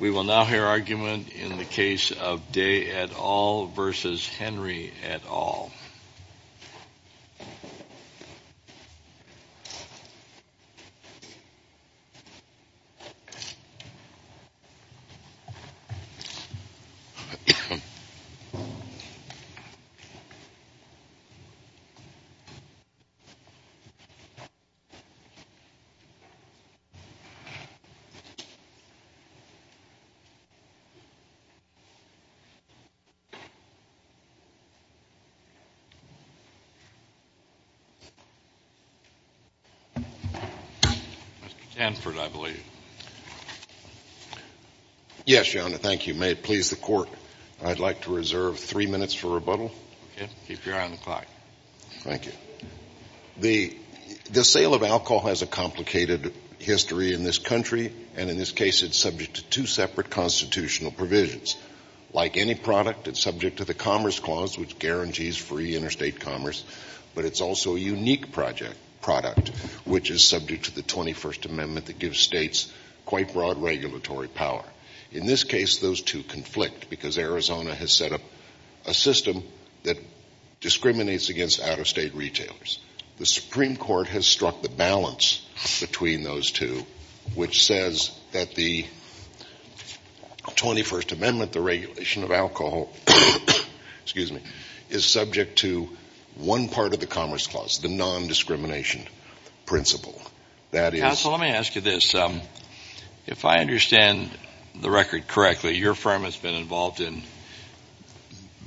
We will now hear argument in the case of Day et al. v. Henry et al. Mr. Stanford, I believe. Yes, Your Honor. Thank you. May it please the Court, I'd like to reserve three minutes for rebuttal. Keep your eye on the clock. Thank you. The sale of alcohol has a complicated history in this country, and in this case it's subject to two separate constitutional provisions. Like any product, it's subject to the Commerce Clause, which guarantees free interstate commerce, but it's also a unique product, which is subject to the 21st Amendment that gives states quite broad regulatory power. In this case, those two conflict because Arizona has set up a system that discriminates against out-of-state retailers. The Supreme Court has struck the balance between those two, which says that the 21st Amendment, the regulation of alcohol, is subject to one part of the Commerce Clause, the non-discrimination principle. That is... Counsel, let me ask you this. If I understand the record correctly, your firm has been involved in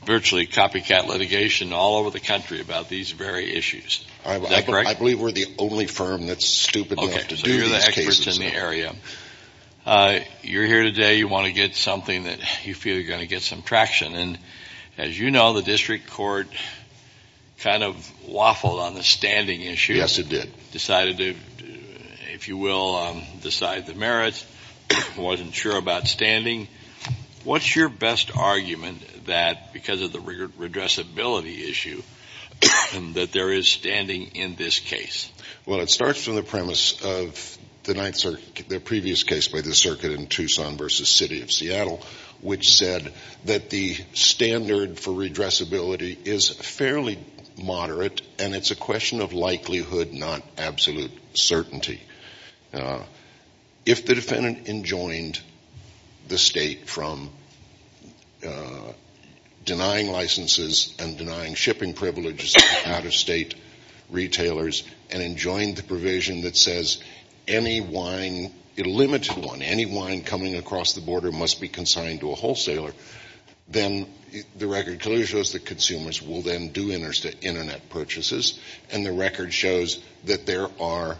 virtually copycat litigation all over the country. Is that correct? I believe we're the only firm that's stupid enough to do these cases. Okay. So you're the experts in the area. You're here today. You want to get something that you feel you're going to get some traction. And as you know, the District Court kind of waffled on the standing issue. Yes, it did. Decided to, if you will, decide the merits. Wasn't sure about standing. What's your best argument that because of the redressability issue that there is standing in this case? Well, it starts from the premise of the previous case by the circuit in Tucson versus City of Seattle, which said that the standard for redressability is fairly moderate, and it's a question of likelihood, not absolute certainty. If the defendant enjoined the state from denying licenses and denying shipping privileges to out-of-state retailers and enjoined the provision that says any wine, a limited one, any wine coming across the border must be consigned to a wholesaler, then the record clearly shows that consumers will then do Internet purchases, and the record shows that there are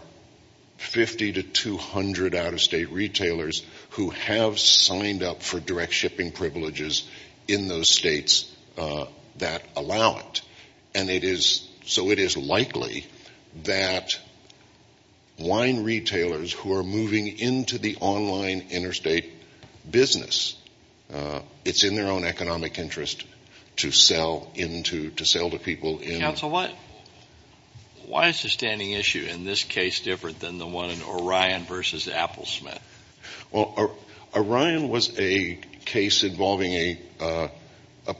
50 to 200 out-of-state retailers who have signed up for direct shipping privileges in those states that allow it. And it is so it is likely that wine retailers who are moving into the online interstate business, it's in their own economic interest to sell to people. Counsel, why is the standing issue in this case different than the one in Orion versus Applesmith? Well, Orion was a case involving a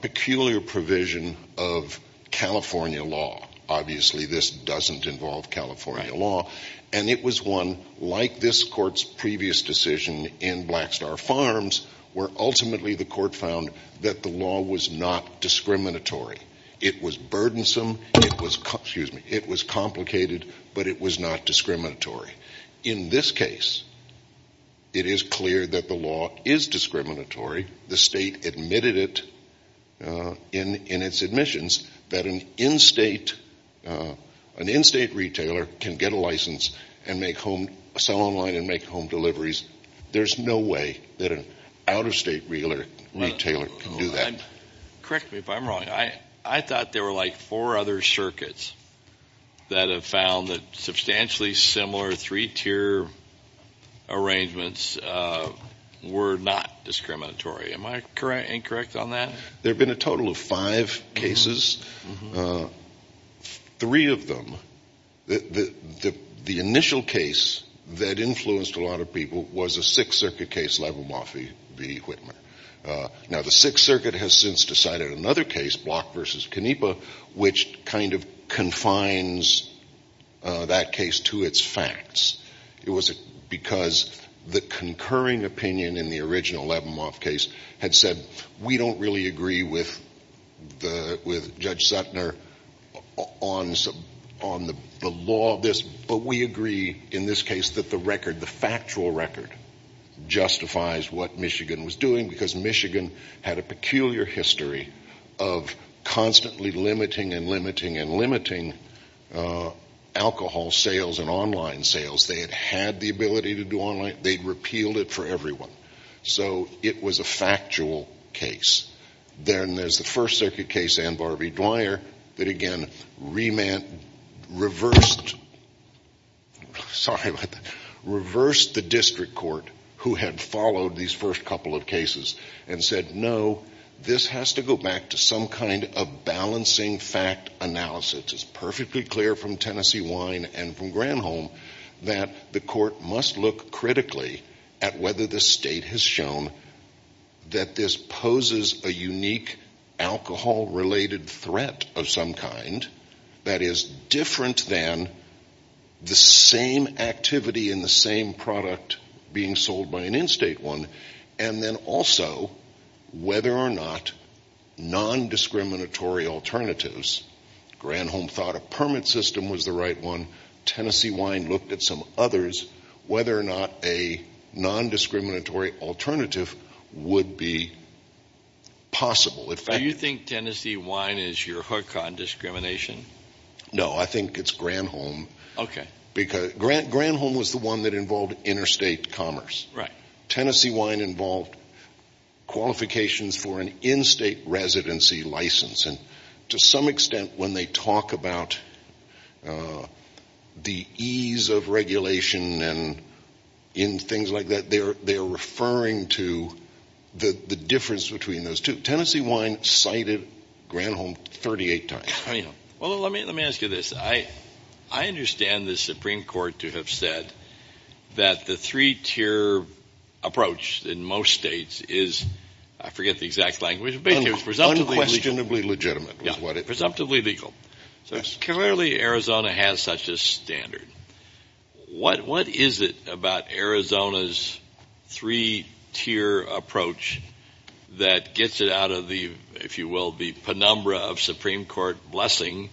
peculiar provision of California law. Obviously, this doesn't involve California law, and it was one, like this Court's previous decision in Blackstar Farms, where ultimately the Court found that the law was not discriminatory. It was burdensome. It was complicated, but it was not discriminatory. In this case, it is clear that the law is discriminatory. The state admitted it in its admissions that an in-state retailer can get a license and sell online and make home deliveries. There's no way that an out-of-state retailer can do that. Correct me if I'm wrong. I thought there were like four other circuits that have found that substantially similar three-tier arrangements were not discriminatory. Am I incorrect on that? There have been a total of five cases. Three of them, the initial case that influenced a lot of people was a Sixth Circuit case, Levenmoff v. Whitman. Now, the Sixth Circuit has since decided another case, Block v. Canepa, which kind of confines that case to its facts. It was because the concurring opinion in the original Levenmoff case had said, we don't really agree with Judge Suttner on the law of this, but we agree in this case that the record, the factual record, justifies what Michigan was doing because Michigan had a peculiar history of constantly limiting and limiting and limiting alcohol sales and online sales. They had had the ability to do online. They had repealed it for everyone. So it was a factual case. Then there's the First Circuit case, Ann Barbee Dwyer, that again reversed the district court who had followed these first couple of cases and said, no, this has to go back to some kind of balancing fact analysis. It's perfectly clear from Tennessee Wine and from Granholm that the court must look critically at whether the state has shown that this poses a unique alcohol related threat of some kind that is different than the same activity in the same product being sold by an in-state one, and then also whether or not nondiscriminatory alternatives, Granholm thought a permit system was the right one. Tennessee Wine looked at some others, whether or not a nondiscriminatory alternative would be possible. Do you think Tennessee Wine is your hook on discrimination? No, I think it's Granholm. Okay. Granholm was the one that involved interstate commerce. Tennessee Wine involved qualifications for an in-state residency license, and to some extent when they talk about the ease of regulation and in things like that, they're referring to the difference between those two. Tennessee Wine cited Granholm 38 times. Well, let me ask you this. I understand the Supreme Court to have said that the three-tier approach in most states is, I forget presumptively legal. So clearly Arizona has such a standard. What is it about Arizona's three-tier approach that gets it out of the, if you will, the penumbra of Supreme Court blessing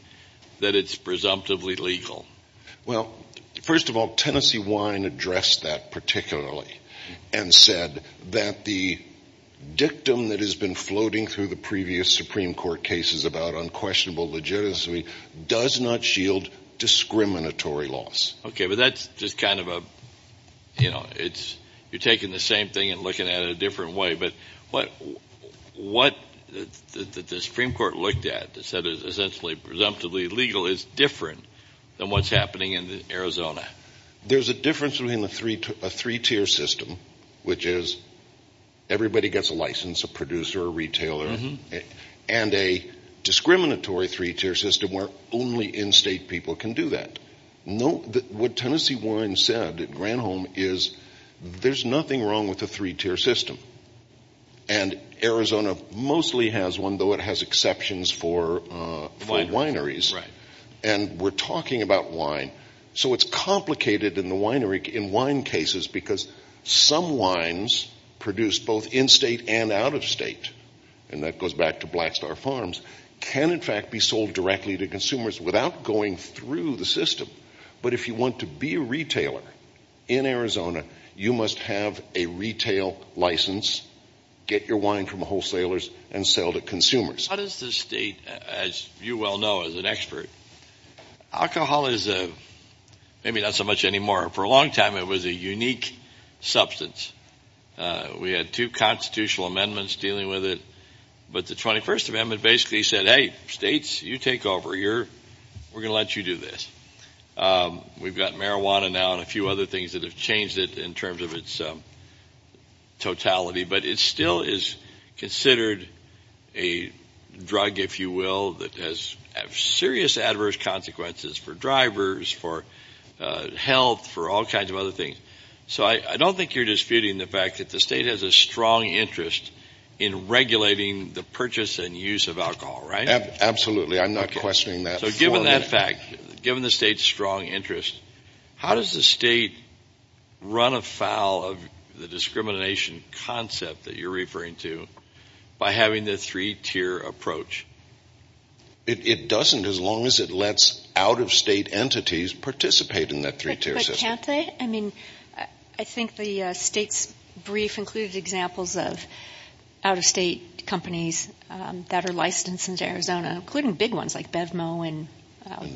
that it's presumptively legal? Well, first of all, Tennessee Wine addressed that particularly and said that the dictum that has been floating through the previous Supreme Court cases about unquestionable legitimacy does not shield discriminatory laws. Okay, but that's just kind of a, you know, it's, you're taking the same thing and looking at it a different way. But what the Supreme Court looked at that said is essentially presumptively legal is different than what's happening in Arizona. There's a difference between a three-tier system, which is everybody gets a license, a producer, a retailer, and a discriminatory three-tier system where only in-state people can do that. No, what Tennessee Wine said at Granholm is there's nothing wrong with a three-tier system. And Arizona mostly has one, though it has exceptions for wineries. And we're talking about wine. So it's complicated in the wine cases because some wines produced both in-state and out-of-state, and that goes back to Blackstar Farms, can in fact be sold directly to consumers without going through the system. But if you want to be a retailer in Arizona, you must have a retail license, get your wine from wholesalers, and sell to consumers. How does the state, as you well know as an expert, alcohol is maybe not so much anymore for a long time. It was a unique substance. We had two constitutional amendments dealing with it, but the 21st amendment basically said, hey, states, you take over. We're gonna let you do this. We've got marijuana now and a few other things that have changed it in terms of its totality, but it still is considered a drug, if you will, that has serious adverse consequences for drivers, for health, for all kinds of other things. So I don't think you're disputing the fact that the state has a strong interest in regulating the purchase and use of alcohol, right? Absolutely. I'm not questioning that. So given that fact, given the state's strong interest, how does the state run afoul of the discrimination concept that you're referring to by having the three-tier approach? It doesn't as long as it lets out-of-state entities participate in that three-tier system. But can't they? I mean, I think the state's brief included examples of out-of-state companies that are licensed into Arizona, including big ones like BevMo and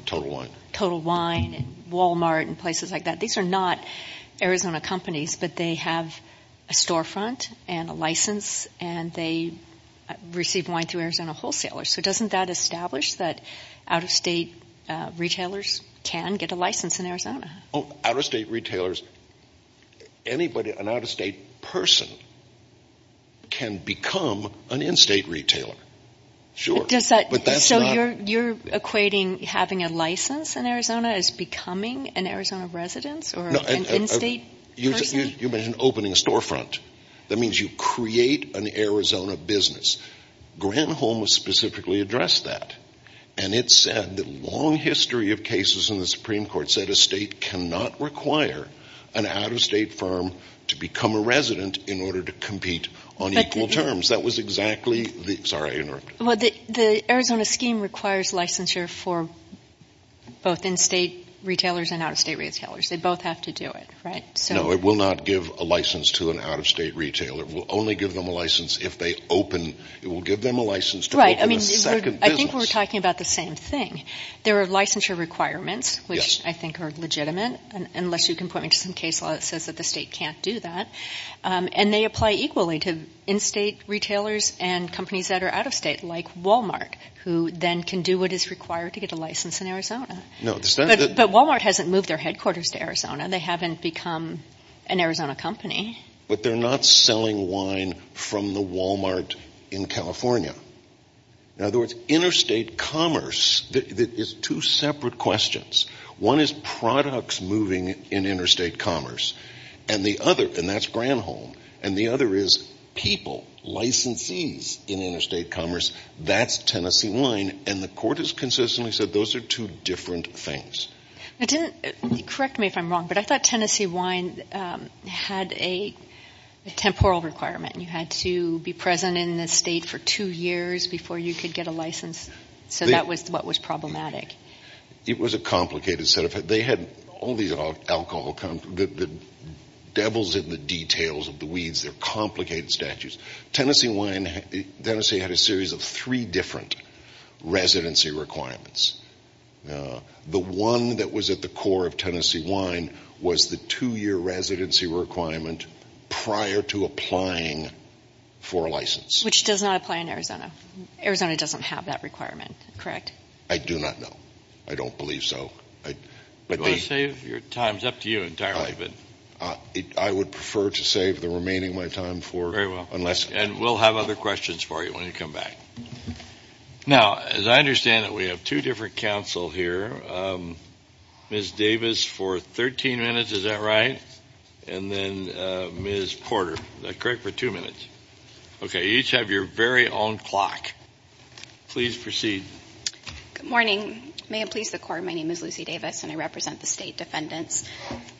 Total Wine and Walmart and places like that. These are not Arizona companies, but they have a storefront and a license and they receive wine through Arizona wholesalers. So doesn't that establish that out-of-state retailers can get a license in Arizona? Out-of-state retailers, anybody, an out-of-state person can become an in-state retailer. Sure. So you're equating having a license in Arizona as becoming an Arizona resident or an in-state person? You mentioned opening a storefront. That means you create an Arizona business. Grant Holmes specifically addressed that. And it said that a long history of cases in the Supreme Court said a state cannot require an out-of-state firm to become a resident in order to compete on equal terms. That was exactly the... Sorry, I interrupted. Well, the Arizona scheme requires licensure for both in-state retailers and out-of-state retailers. They both have to do it, right? No, it will not give a license to an out-of-state retailer. It will only give them a license to open a second business. I think we're talking about the same thing. There are licensure requirements, which I think are legitimate, unless you can point me to some case law that says that the state can't do that. And they apply equally to in-state retailers and companies that are out-of-state, like Walmart, who then can do what is required to get a license in Arizona. But Walmart hasn't moved their headquarters to Arizona. They haven't become an Arizona company. But they're not selling wine from the Walmart in California. In other words, interstate commerce, there's two separate questions. One is products moving in interstate commerce. And the other, and that's Grant Holmes. And the other is people, licensees in interstate commerce. That's Tennessee wine. And the court has consistently said those are two different things. Correct me if I'm wrong, but I thought Tennessee wine had a temporal requirement. You had to be present in the state for two years before you could get a license. So that was what was problematic. It was a complicated set of, they had all these alcohol, the devil's in the details of the weeds, they're complicated statutes. Tennessee wine, Tennessee had a series of three different residency requirements. The one that was at the core of Tennessee wine was the two-year residency requirement prior to applying for a license. Which does not apply in Arizona. Arizona doesn't have that requirement, correct? I do not know. I don't believe so. Do you want to save your time? It's up to you entirely. I would prefer to save the remaining of my time. And we'll have other questions for you when you come back. Now, as I understand it, we have two different counsel here. Ms. Davis for 13 minutes, is that right? And then Ms. Porter, is that correct, for two minutes? Okay, you each have your very own clock. Please proceed. Good morning. May it please the court, my name is Lucy Davis and I represent the state defendants.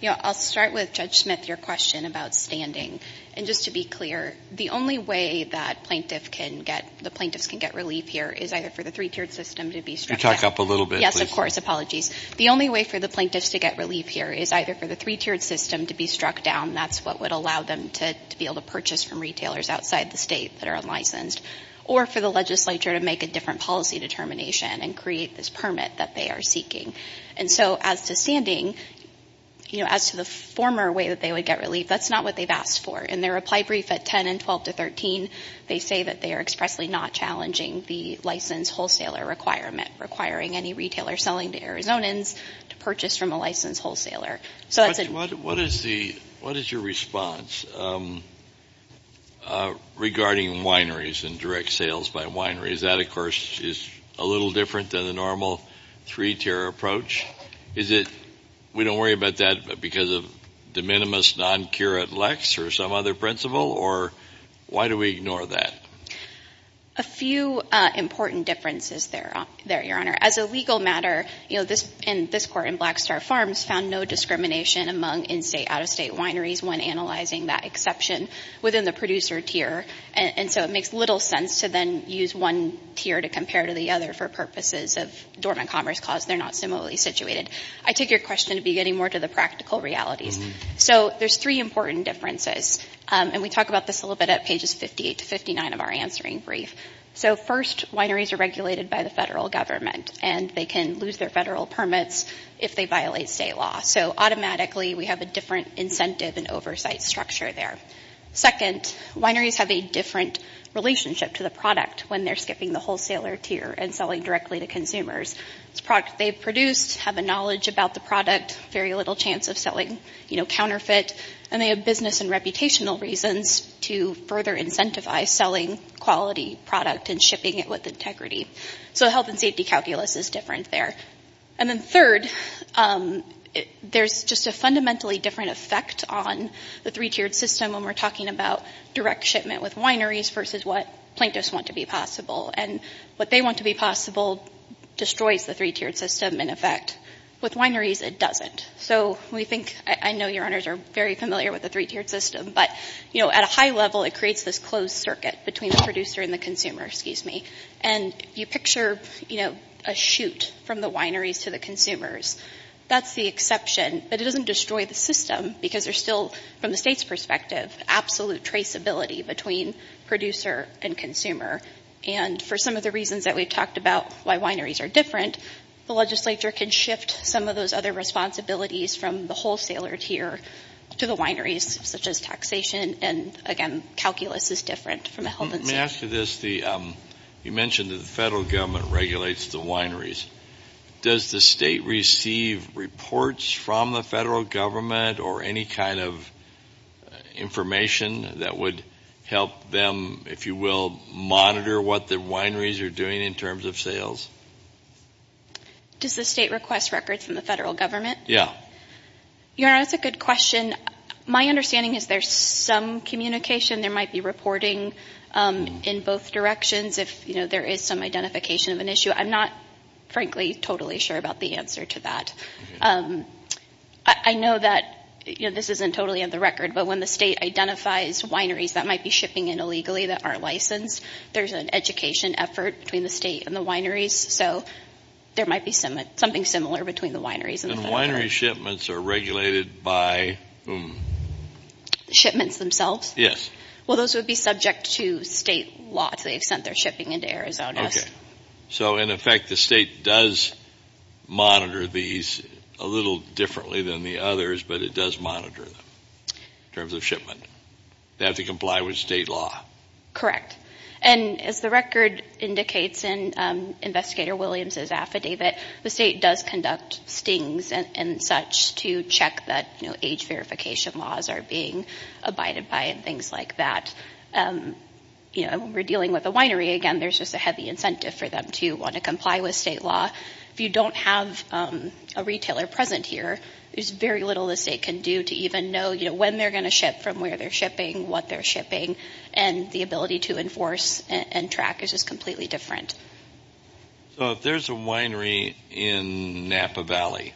I'll start with Judge Smith, your question about standing. And just to be clear, the only way that the plaintiffs can get relief here is either for the three-tiered system to be struck down. Can you talk up a little bit? Yes, of course. Apologies. The only way for the plaintiffs to get relief here is either for the three-tiered system to be struck down, that's what would allow them to be able to purchase from retailers outside the state that are unlicensed, or for the legislature to make a different policy determination and create this permit that they are seeking. And so as to standing, you know, as to the former way that they would get relief, that's not what they've asked for. In their reply brief at 10 and 12 to 13, they say that they are expressly not challenging the licensed wholesaler requirement, requiring any retailer selling to Arizonans to purchase from a licensed wholesaler. What is your response regarding wineries and direct sales by wineries? That, of course, is a little different than the normal three-tier approach. Is it we don't worry about that because of de minimis non-curate lex or some other principle? Or why do we ignore that? A few important differences there, Your Honor. As a legal matter, you know, this court in Blackstar Farms found no discrimination among in-state, out-of-state wineries when analyzing that exception within the producer tier. And so it makes little sense to then use one tier to compare to the other for purposes of dormant commerce clause. They're not similarly situated. I take your question to be getting more to the practical realities. So there's three important differences. And we talk about this a little bit at pages 58 to 59 of our answering brief. So first, wineries are regulated by the federal government, and they can lose their federal permits if they violate state law. So automatically, we have a different incentive and oversight structure there. Second, wineries have a different relationship to the product when they're skipping the wholesaler tier and selling directly to consumers. It's a product they've produced, have a knowledge about the product, very little chance of selling, you know, counterfeit. And they have business and reputational reasons to further incentivize selling quality product and shipping it with integrity. So health and safety calculus is different there. And then third, there's just a fundamentally different effect on the three-tiered system when we're talking about direct shipment with wineries versus what plaintiffs want to be possible. And what they want to be possible destroys the three-tiered system, in effect. With wineries, it doesn't. So we think – I know your honors are very familiar with the three-tiered system, but, you know, at a high level, it creates this closed circuit between the producer and the consumer, excuse me. And you picture, you know, a shoot from the wineries to the consumers. That's the exception, but it doesn't destroy the system because there's still, from the state's perspective, absolute traceability between producer and consumer. And for some of the reasons that we've talked about why wineries are different, the legislature can shift some of those other responsibilities from the wholesaler tier to the wineries, such as taxation. And, again, calculus is different from health and safety. Let me ask you this. You mentioned that the federal government regulates the wineries. Does the state receive reports from the federal government or any kind of information that would help them, if you will, monitor what the wineries are doing in terms of sales? Does the state request records from the federal government? Yeah. Your Honor, that's a good question. My understanding is there's some communication. There might be reporting in both directions if, you know, there is some identification of an issue. I'm not, frankly, totally sure about the answer to that. I know that, you know, this isn't totally on the record, but when the state identifies wineries that might be shipping in illegally that aren't licensed, there's an education effort between the state and the wineries. So there might be something similar between the wineries and the federal government. And winery shipments are regulated by whom? Shipments themselves? Yes. Well, those would be subject to state laws. They've sent their shipping into Arizona. Okay. So, in effect, the state does monitor these a little differently than the others, but it does monitor them in terms of shipment. They have to comply with state law. Correct. And as the record indicates in Investigator Williams' affidavit, the state does conduct stings and such to check that, you know, age verification laws are being abided by and things like that. You know, when we're dealing with a winery, again, there's just a heavy incentive for them to want to comply with state law. If you don't have a retailer present here, there's very little the state can do to even know, you know, when they're going to ship, from where they're shipping, what they're shipping, and the ability to enforce and track is just completely different. So if there's a winery in Napa Valley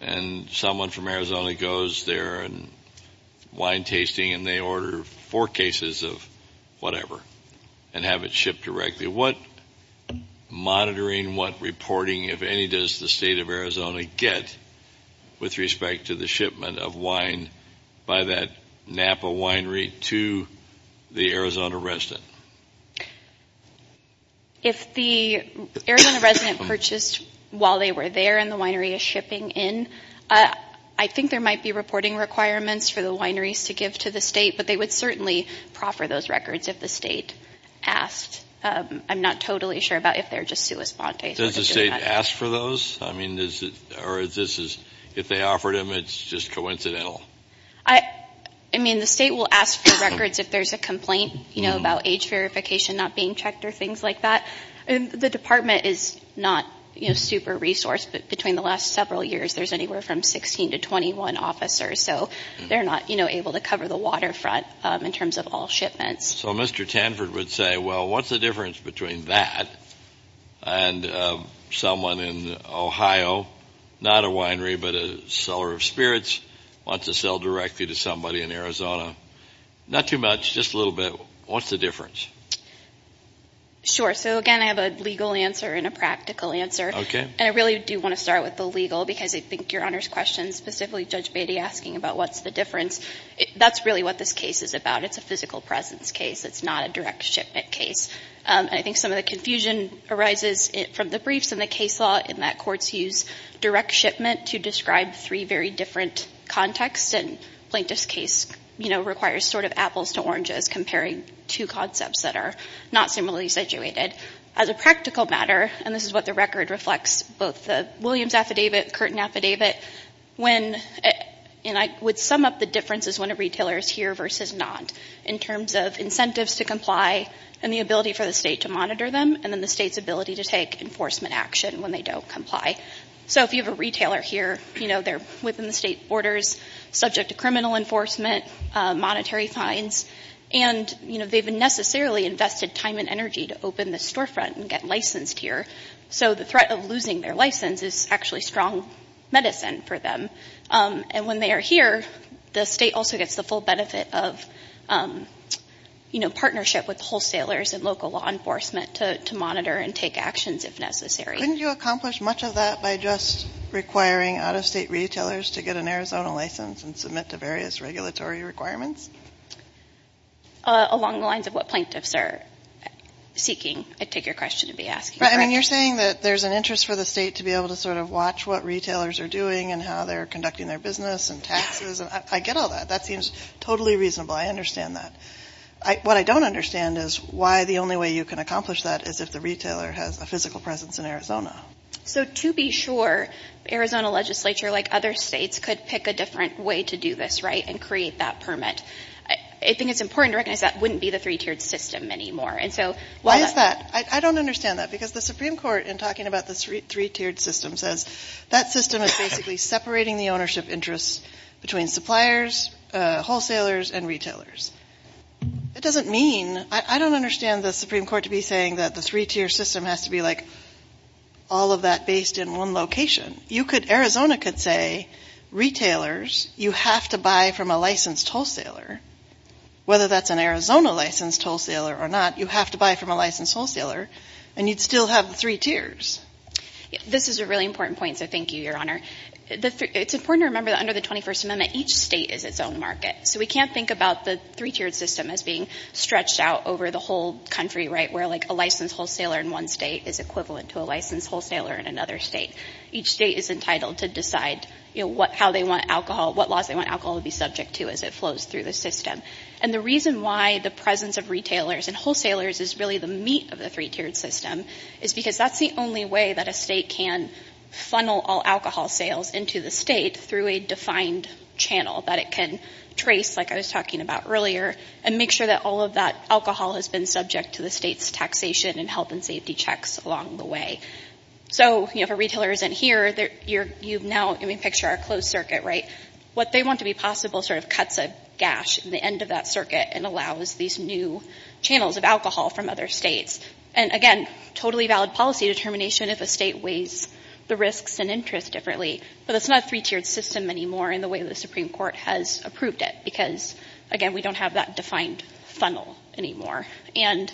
and someone from Arizona goes there and they're doing wine tasting and they order four cases of whatever and have it shipped directly, what monitoring, what reporting, if any, does the state of Arizona get with respect to the shipment of wine by that Napa winery to the Arizona resident? If the Arizona resident purchased while they were there and the winery is shipping in, I think there might be reporting requirements for the wineries to give to the state, but they would certainly proffer those records if the state asked. I'm not totally sure about if they're just sui sponte. Does the state ask for those? I mean, or if they offered them, it's just coincidental? I mean, the state will ask for records if there's a complaint, you know, about age verification not being checked or things like that. The department is not, you know, super resourced, but between the last several years there's anywhere from 16 to 21 officers, so they're not, you know, able to cover the waterfront in terms of all shipments. So Mr. Tanford would say, well, what's the difference between that and someone in Ohio, not a winery but a seller of spirits, wants to sell directly to somebody in Arizona? Not too much, just a little bit. What's the difference? Sure. So, again, I have a legal answer and a practical answer. Okay. And I really do want to start with the legal because I think Your Honor's question, specifically Judge Beatty asking about what's the difference, that's really what this case is about. It's a physical presence case. It's not a direct shipment case. And I think some of the confusion arises from the briefs and the case law in that courts use direct shipment to describe three very different contexts, and Plaintiff's case, you know, requires sort of apples to oranges, comparing two concepts that are not similarly situated. As a practical matter, and this is what the record reflects, both the Williams Affidavit, Curtin Affidavit, and I would sum up the differences when a retailer is here versus not, in terms of incentives to comply and the ability for the state to monitor them and then the state's ability to take enforcement action when they don't comply. So if you have a retailer here, you know, they're within the state borders, subject to criminal enforcement, monetary fines, and, you know, they've necessarily invested time and energy to open the storefront and get licensed here. So the threat of losing their license is actually strong medicine for them. And when they are here, the state also gets the full benefit of, you know, partnership with wholesalers and local law enforcement to monitor and take actions if necessary. Wouldn't you accomplish much of that by just requiring out-of-state retailers to get an Arizona license and submit to various regulatory requirements? Along the lines of what plaintiffs are seeking, I take your question and be asking. I mean, you're saying that there's an interest for the state to be able to sort of watch what retailers are doing and how they're conducting their business and taxes. I get all that. That seems totally reasonable. I understand that. What I don't understand is why the only way you can accomplish that is if the retailer has a physical presence in Arizona. So to be sure, Arizona legislature, like other states, could pick a different way to do this, right, and create that permit. I think it's important to recognize that wouldn't be the three-tiered system anymore. Why is that? I don't understand that because the Supreme Court, in talking about the three-tiered system, says that system is basically separating the ownership interests between suppliers, wholesalers, and retailers. It doesn't mean – I don't understand the Supreme Court to be saying that the three-tier system has to be, like, all of that based in one location. Arizona could say, retailers, you have to buy from a licensed wholesaler. Whether that's an Arizona-licensed wholesaler or not, you have to buy from a licensed wholesaler, and you'd still have the three tiers. This is a really important point, so thank you, Your Honor. It's important to remember that under the 21st Amendment, each state is its own market. So we can't think about the three-tiered system as being stretched out over the whole country, right, where, like, a licensed wholesaler in one state is equivalent to a licensed wholesaler in another state. Each state is entitled to decide how they want alcohol, what laws they want alcohol to be subject to as it flows through the system. And the reason why the presence of retailers and wholesalers is really the meat of the three-tiered system is because that's the only way that a state can funnel all alcohol sales into the state through a defined channel that it can trace, like I was talking about earlier, and make sure that all of that alcohol has been subject to the state's taxation and health and safety checks along the way. So, you know, if a retailer isn't here, you've now, I mean, picture our closed circuit, right? What they want to be possible sort of cuts a gash in the end of that circuit and allows these new channels of alcohol from other states. And again, totally valid policy determination if a state weighs the risks and interest differently. But it's not a three-tiered system anymore in the way the Supreme Court has approved it because, again, we don't have that defined funnel anymore. And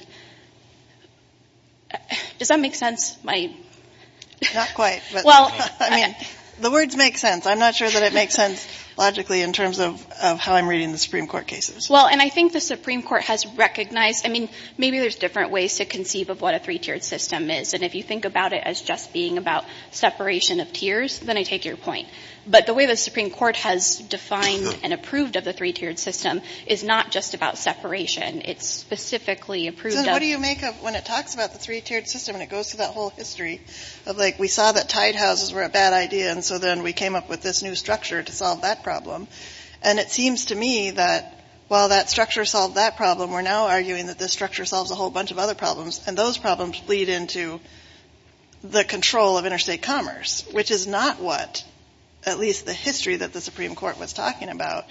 does that make sense? Not quite, but, I mean, the words make sense. I'm not sure that it makes sense logically in terms of how I'm reading the Supreme Court cases. Well, and I think the Supreme Court has recognized, I mean, maybe there's different ways to conceive of what a three-tiered system is. And if you think about it as just being about separation of tiers, then I take your point. But the way the Supreme Court has defined and approved of the three-tiered system is not just about separation. It's specifically approved of. So what do you make of when it talks about the three-tiered system and it goes through that whole history of like we saw that tide houses were a bad idea and so then we came up with this new structure to solve that problem. And it seems to me that while that structure solved that problem, we're now arguing that this structure solves a whole bunch of other problems. And those problems bleed into the control of interstate commerce, which is not what at least the history that the Supreme Court was talking about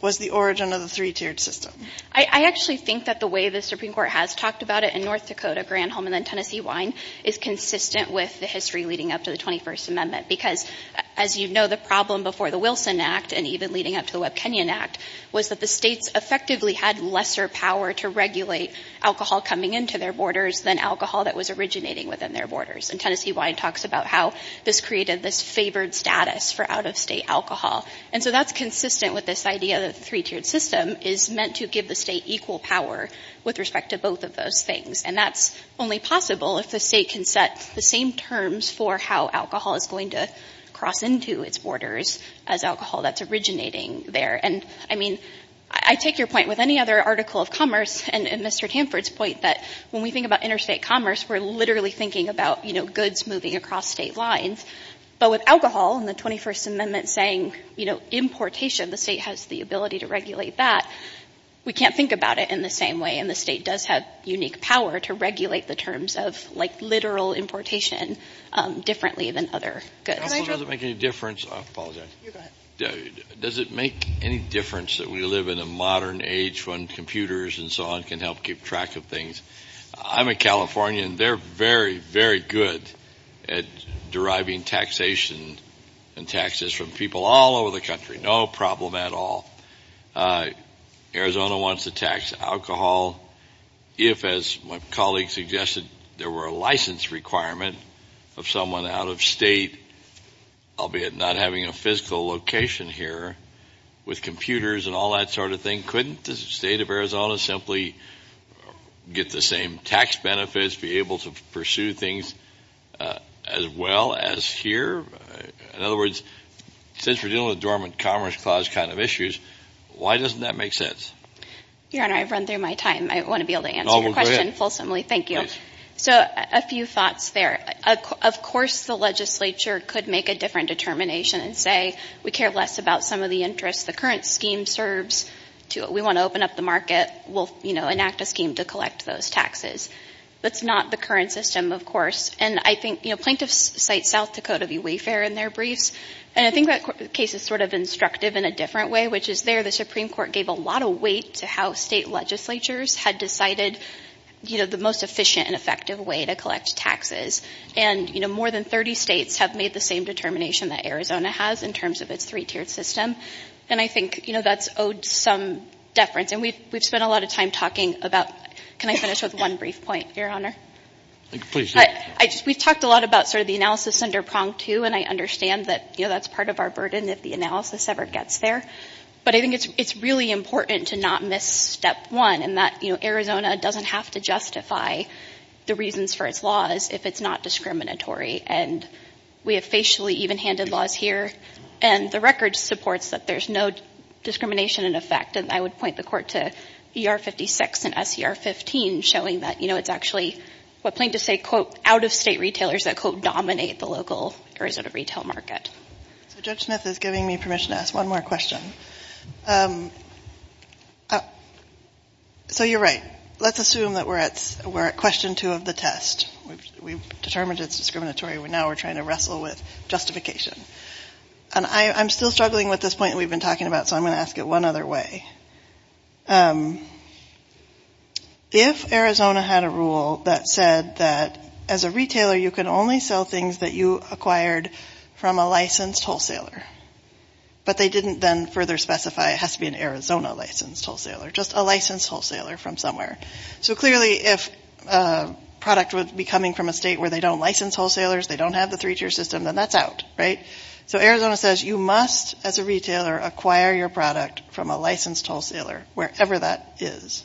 was the origin of the three-tiered system. I actually think that the way the Supreme Court has talked about it in North Dakota, Granholm, and then Tennessee wine is consistent with the history leading up to the 21st Amendment. Because as you know, the problem before the Wilson Act and even leading up to the Webb-Kenyon Act was that the states effectively had lesser power to regulate alcohol coming into their borders than alcohol that was originating within their borders. And Tennessee wine talks about how this created this favored status for out-of-state alcohol. And so that's consistent with this idea that the three-tiered system is meant to give the state equal power with respect to both of those things. And that's only possible if the state can set the same terms for how alcohol is going to cross into its borders as alcohol that's originating there. And I mean, I take your point with any other article of commerce and Mr. Tamford's point that when we think about interstate commerce, we're literally thinking about, you know, goods moving across state lines. But with alcohol and the 21st Amendment saying, you know, importation, the state has the ability to regulate that, we can't think about it in the same way. And the state does have unique power to regulate the terms of, like, literal importation differently than other goods. Does it make any difference—I apologize. You go ahead. Does it make any difference that we live in a modern age when computers and so on can help keep track of things? I'm a Californian. They're very, very good at deriving taxation and taxes from people all over the country. No problem at all. Arizona wants to tax alcohol. If, as my colleague suggested, there were a license requirement of someone out of state, albeit not having a physical location here, with computers and all that sort of thing, couldn't the state of Arizona simply get the same tax benefits, be able to pursue things as well as here? In other words, since we're dealing with dormant commerce clause kind of issues, why doesn't that make sense? Your Honor, I've run through my time. I want to be able to answer your question fulsomely. Thank you. So a few thoughts there. Of course the legislature could make a different determination and say, we care less about some of the interests. The current scheme serves to it. We want to open up the market. We'll enact a scheme to collect those taxes. That's not the current system, of course. And I think plaintiffs cite South Dakota v. Wayfair in their briefs, and I think that case is sort of instructive in a different way, which is there the Supreme Court gave a lot of weight to how state legislatures had decided the most efficient and effective way to collect taxes. And more than 30 states have made the same determination that Arizona has in terms of its three-tiered system. And I think that's owed some deference. And we've spent a lot of time talking about – can I finish with one brief point, Your Honor? Please do. We've talked a lot about sort of the analysis under prong two, and I understand that that's part of our burden if the analysis ever gets there. But I think it's really important to not miss step one, in that Arizona doesn't have to justify the reasons for its laws if it's not discriminatory. And we have facially even-handed laws here, and the record supports that there's no discrimination in effect. And I would point the Court to ER-56 and SER-15, showing that it's actually what plaintiffs say, quote, out-of-state retailers that, quote, dominate the local Arizona retail market. So Judge Smith is giving me permission to ask one more question. So you're right. Let's assume that we're at question two of the test. We've determined it's discriminatory. Now we're trying to wrestle with justification. And I'm still struggling with this point we've been talking about, so I'm going to ask it one other way. If Arizona had a rule that said that, as a retailer, you can only sell things that you acquired from a licensed wholesaler, but they didn't then further specify it has to be an Arizona-licensed wholesaler, just a licensed wholesaler from somewhere. So clearly if a product would be coming from a state where they don't license wholesalers, they don't have the three-tier system, then that's out, right? So Arizona says you must, as a retailer, acquire your product from a licensed wholesaler, wherever that is.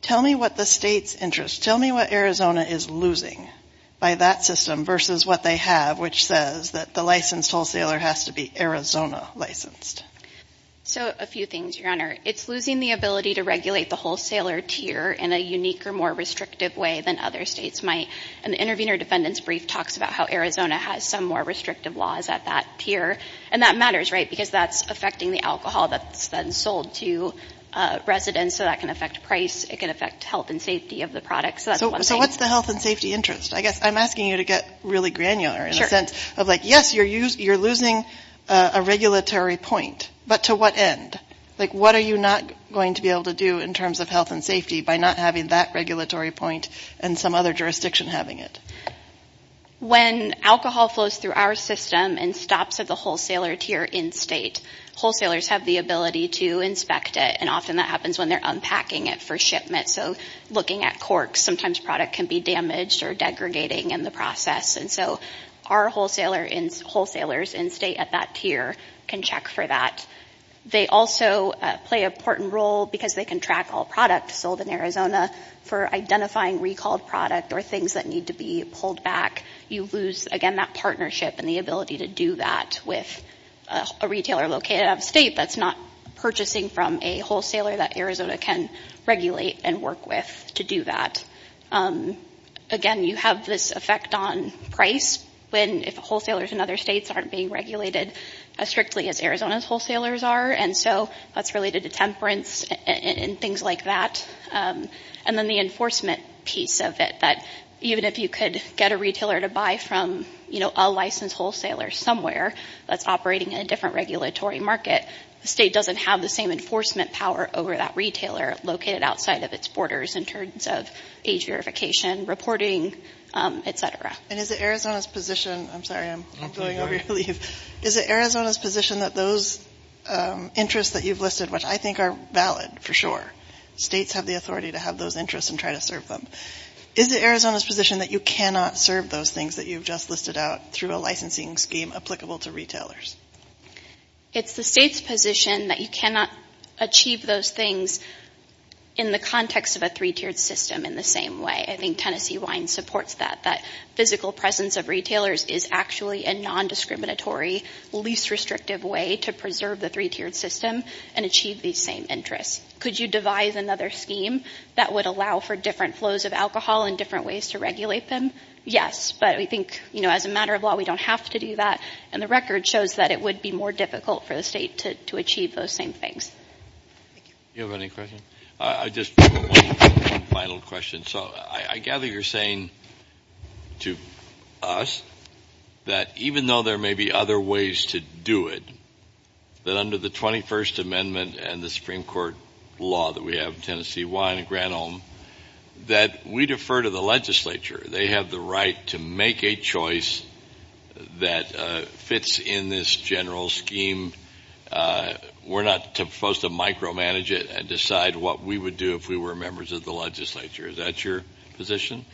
Tell me what the state's interest, tell me what Arizona is losing by that system versus what they have, which says that the licensed wholesaler has to be Arizona-licensed. So a few things, Your Honor. It's losing the ability to regulate the wholesaler tier in a unique or more restrictive way than other states might. An intervener defendant's brief talks about how Arizona has some more restrictive laws at that tier. And that matters, right, because that's affecting the alcohol that's then sold to residents, so that can affect price, it can affect health and safety of the product. So that's one thing. So what's the health and safety interest? I guess I'm asking you to get really granular in the sense of, like, I guess you're losing a regulatory point, but to what end? Like, what are you not going to be able to do in terms of health and safety by not having that regulatory point and some other jurisdiction having it? When alcohol flows through our system and stops at the wholesaler tier in-state, wholesalers have the ability to inspect it, and often that happens when they're unpacking it for shipment. So looking at corks, sometimes product can be damaged or degradating in the process. And so our wholesalers in-state at that tier can check for that. They also play an important role because they can track all products sold in Arizona for identifying recalled product or things that need to be pulled back. You lose, again, that partnership and the ability to do that with a retailer located out of state that's not purchasing from a wholesaler that Arizona can regulate and work with to do that. Again, you have this effect on price when wholesalers in other states aren't being regulated as strictly as Arizona's wholesalers are. And so that's related to temperance and things like that. And then the enforcement piece of it, that even if you could get a retailer to buy from a licensed wholesaler somewhere that's operating in a different regulatory market, the state doesn't have the same enforcement power over that retailer located outside of its borders in terms of age verification, reporting, et cetera. And is it Arizona's position – I'm sorry, I'm going over your lead. Is it Arizona's position that those interests that you've listed, which I think are valid for sure, states have the authority to have those interests and try to serve them. Is it Arizona's position that you cannot serve those things that you've just listed out through a licensing scheme applicable to retailers? It's the state's position that you cannot achieve those things in the context of a three-tiered system in the same way. I think Tennessee Wine supports that, that physical presence of retailers is actually a nondiscriminatory, least restrictive way to preserve the three-tiered system and achieve these same interests. Could you devise another scheme that would allow for different flows of alcohol and different ways to regulate them? Yes, but we think, you know, as a matter of law, we don't have to do that. And the record shows that it would be more difficult for the state to achieve those same things. Thank you. Do you have any questions? I just have one final question. So I gather you're saying to us that even though there may be other ways to do it, that under the 21st Amendment and the Supreme Court law that we have in Tennessee Wine and Granholm, that we defer to the legislature. They have the right to make a choice that fits in this general scheme. We're not supposed to micromanage it and decide what we would do if we were members of the legislature. Is that your position?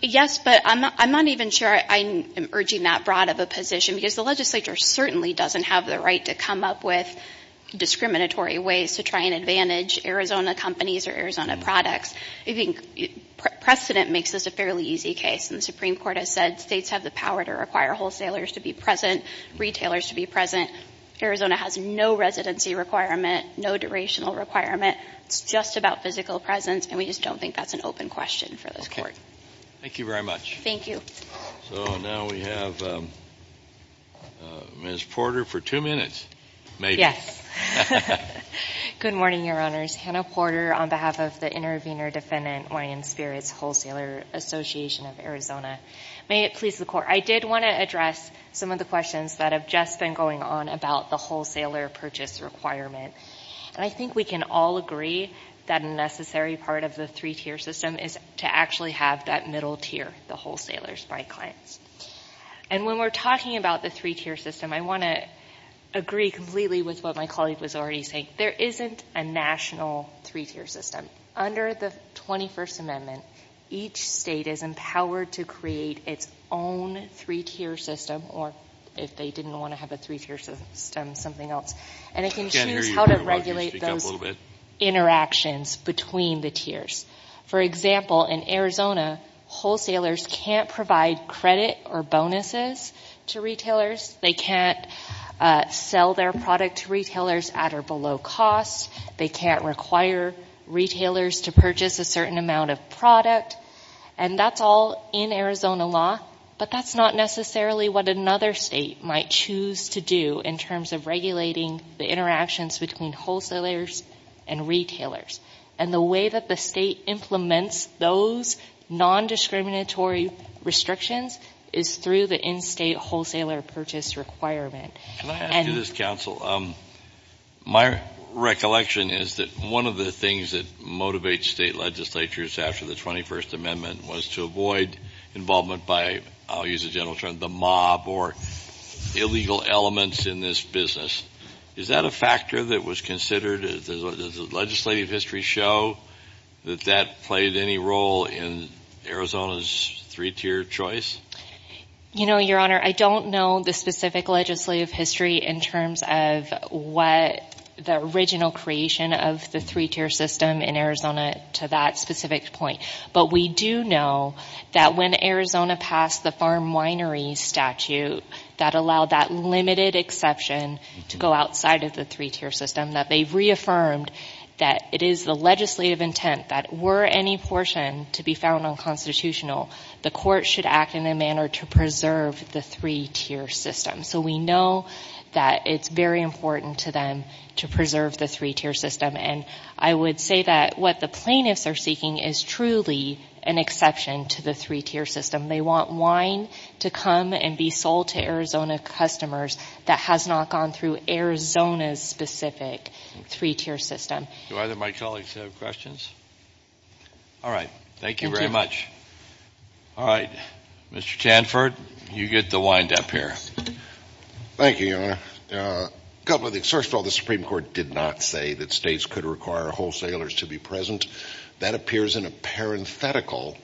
Yes, but I'm not even sure I'm urging that broad of a position because the legislature certainly doesn't have the right to come up with discriminatory ways to try and advantage Arizona companies or Arizona products. I think precedent makes this a fairly easy case, and the Supreme Court has said states have the power to require wholesalers to be present, retailers to be present. Arizona has no residency requirement, no durational requirement. It's just about physical presence, and we just don't think that's an open question for this Court. Okay. Thank you very much. Thank you. So now we have Ms. Porter for two minutes, maybe. Yes. Good morning, Your Honors. Hannah Porter on behalf of the Intervenor Defendant Wine and Spirits Wholesaler Association of Arizona. May it please the Court. I did want to address some of the questions that have just been going on about the wholesaler purchase requirement, and I think we can all agree that a necessary part of the three-tier system is to actually have that middle tier, the wholesalers by clients. And when we're talking about the three-tier system, I want to agree completely with what my colleague was already saying. There isn't a national three-tier system. Under the 21st Amendment, each state is empowered to create its own three-tier system or if they didn't want to have a three-tier system, something else. And it can choose how to regulate those interactions between the tiers. For example, in Arizona, wholesalers can't provide credit or bonuses to retailers. They can't sell their product to retailers at or below cost. They can't require retailers to purchase a certain amount of product. And that's all in Arizona law, but that's not necessarily what another state might choose to do in terms of regulating the interactions between wholesalers and retailers. And the way that the state implements those nondiscriminatory restrictions is through the in-state wholesaler purchase requirement. Can I ask you this, counsel? My recollection is that one of the things that motivates state legislatures after the 21st Amendment was to avoid involvement by, I'll use a general term, the mob or illegal elements in this business. Is that a factor that was considered? Does legislative history show that that played any role in Arizona's three-tier choice? You know, Your Honor, I don't know the specific legislative history in terms of what the original creation of the three-tier system in Arizona to that specific point. But we do know that when Arizona passed the farm winery statute that allowed that limited exception to go outside of the three-tier system, that they reaffirmed that it is the legislative intent that were any portion to be found unconstitutional, the court should act in a manner to preserve the three-tier system. So we know that it's very important to them to preserve the three-tier system. And I would say that what the plaintiffs are seeking is truly an exception to the three-tier system. They want wine to come and be sold to Arizona customers that has not gone through Arizona's specific three-tier system. Do either of my colleagues have questions? All right. Thank you very much. All right. Mr. Chanford, you get the wind up here. Thank you, Your Honor. The Supreme Court did not say that states could require wholesalers to be present. That appears in a parenthetical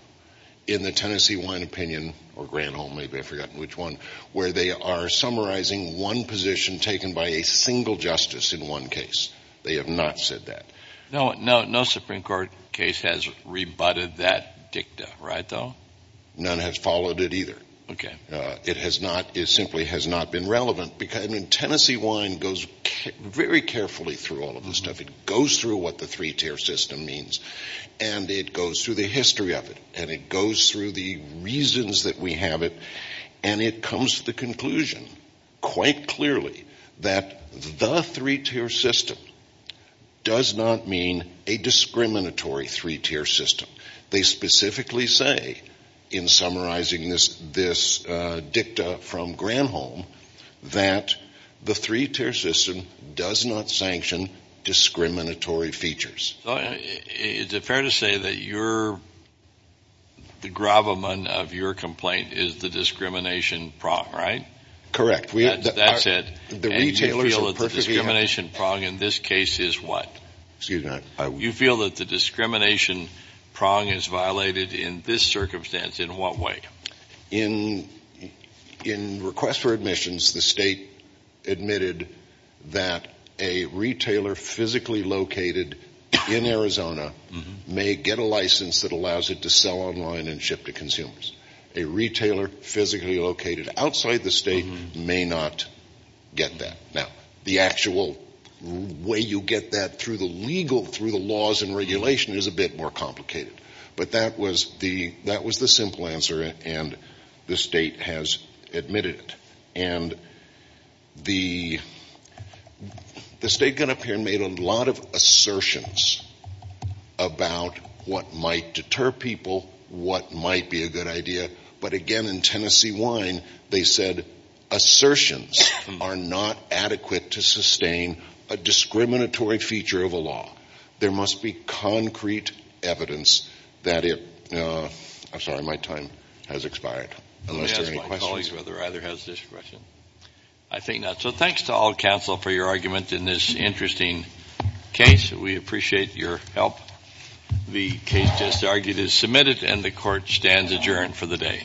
in the Tennessee Wine Opinion, or Granholm, maybe I've forgotten which one, where they are summarizing one position taken by a single justice in one case. They have not said that. No Supreme Court case has rebutted that dicta, right, though? None has followed it either. Okay. It simply has not been relevant. Tennessee Wine goes very carefully through all of this stuff. It goes through what the three-tier system means, and it goes through the history of it, and it goes through the reasons that we have it, and it comes to the conclusion quite clearly that the three-tier system does not mean a discriminatory three-tier system. They specifically say in summarizing this dicta from Granholm that the three-tier system does not sanction discriminatory features. Is it fair to say that the gravamen of your complaint is the discrimination prong, right? Correct. That's it. And you feel that the discrimination prong in this case is what? Excuse me. You feel that the discrimination prong is violated in this circumstance in what way? In request for admissions, the State admitted that a retailer physically located in Arizona may get a license that allows it to sell online and ship to consumers. A retailer physically located outside the State may not get that. Now, the actual way you get that through the legal, through the laws and regulation is a bit more complicated, but that was the simple answer, and the State has admitted it. And the State got up here and made a lot of assertions about what might deter people, what might be a good idea, but, again, in Tennessee Wine, they said assertions are not adequate to sustain a discriminatory feature of a law. There must be concrete evidence that it – I'm sorry, my time has expired, unless there are any questions. Let me ask my colleagues whether either has discretion. I think not. So thanks to all counsel for your argument in this interesting case. We appreciate your help. The case just argued is submitted, and the Court stands adjourned for the day.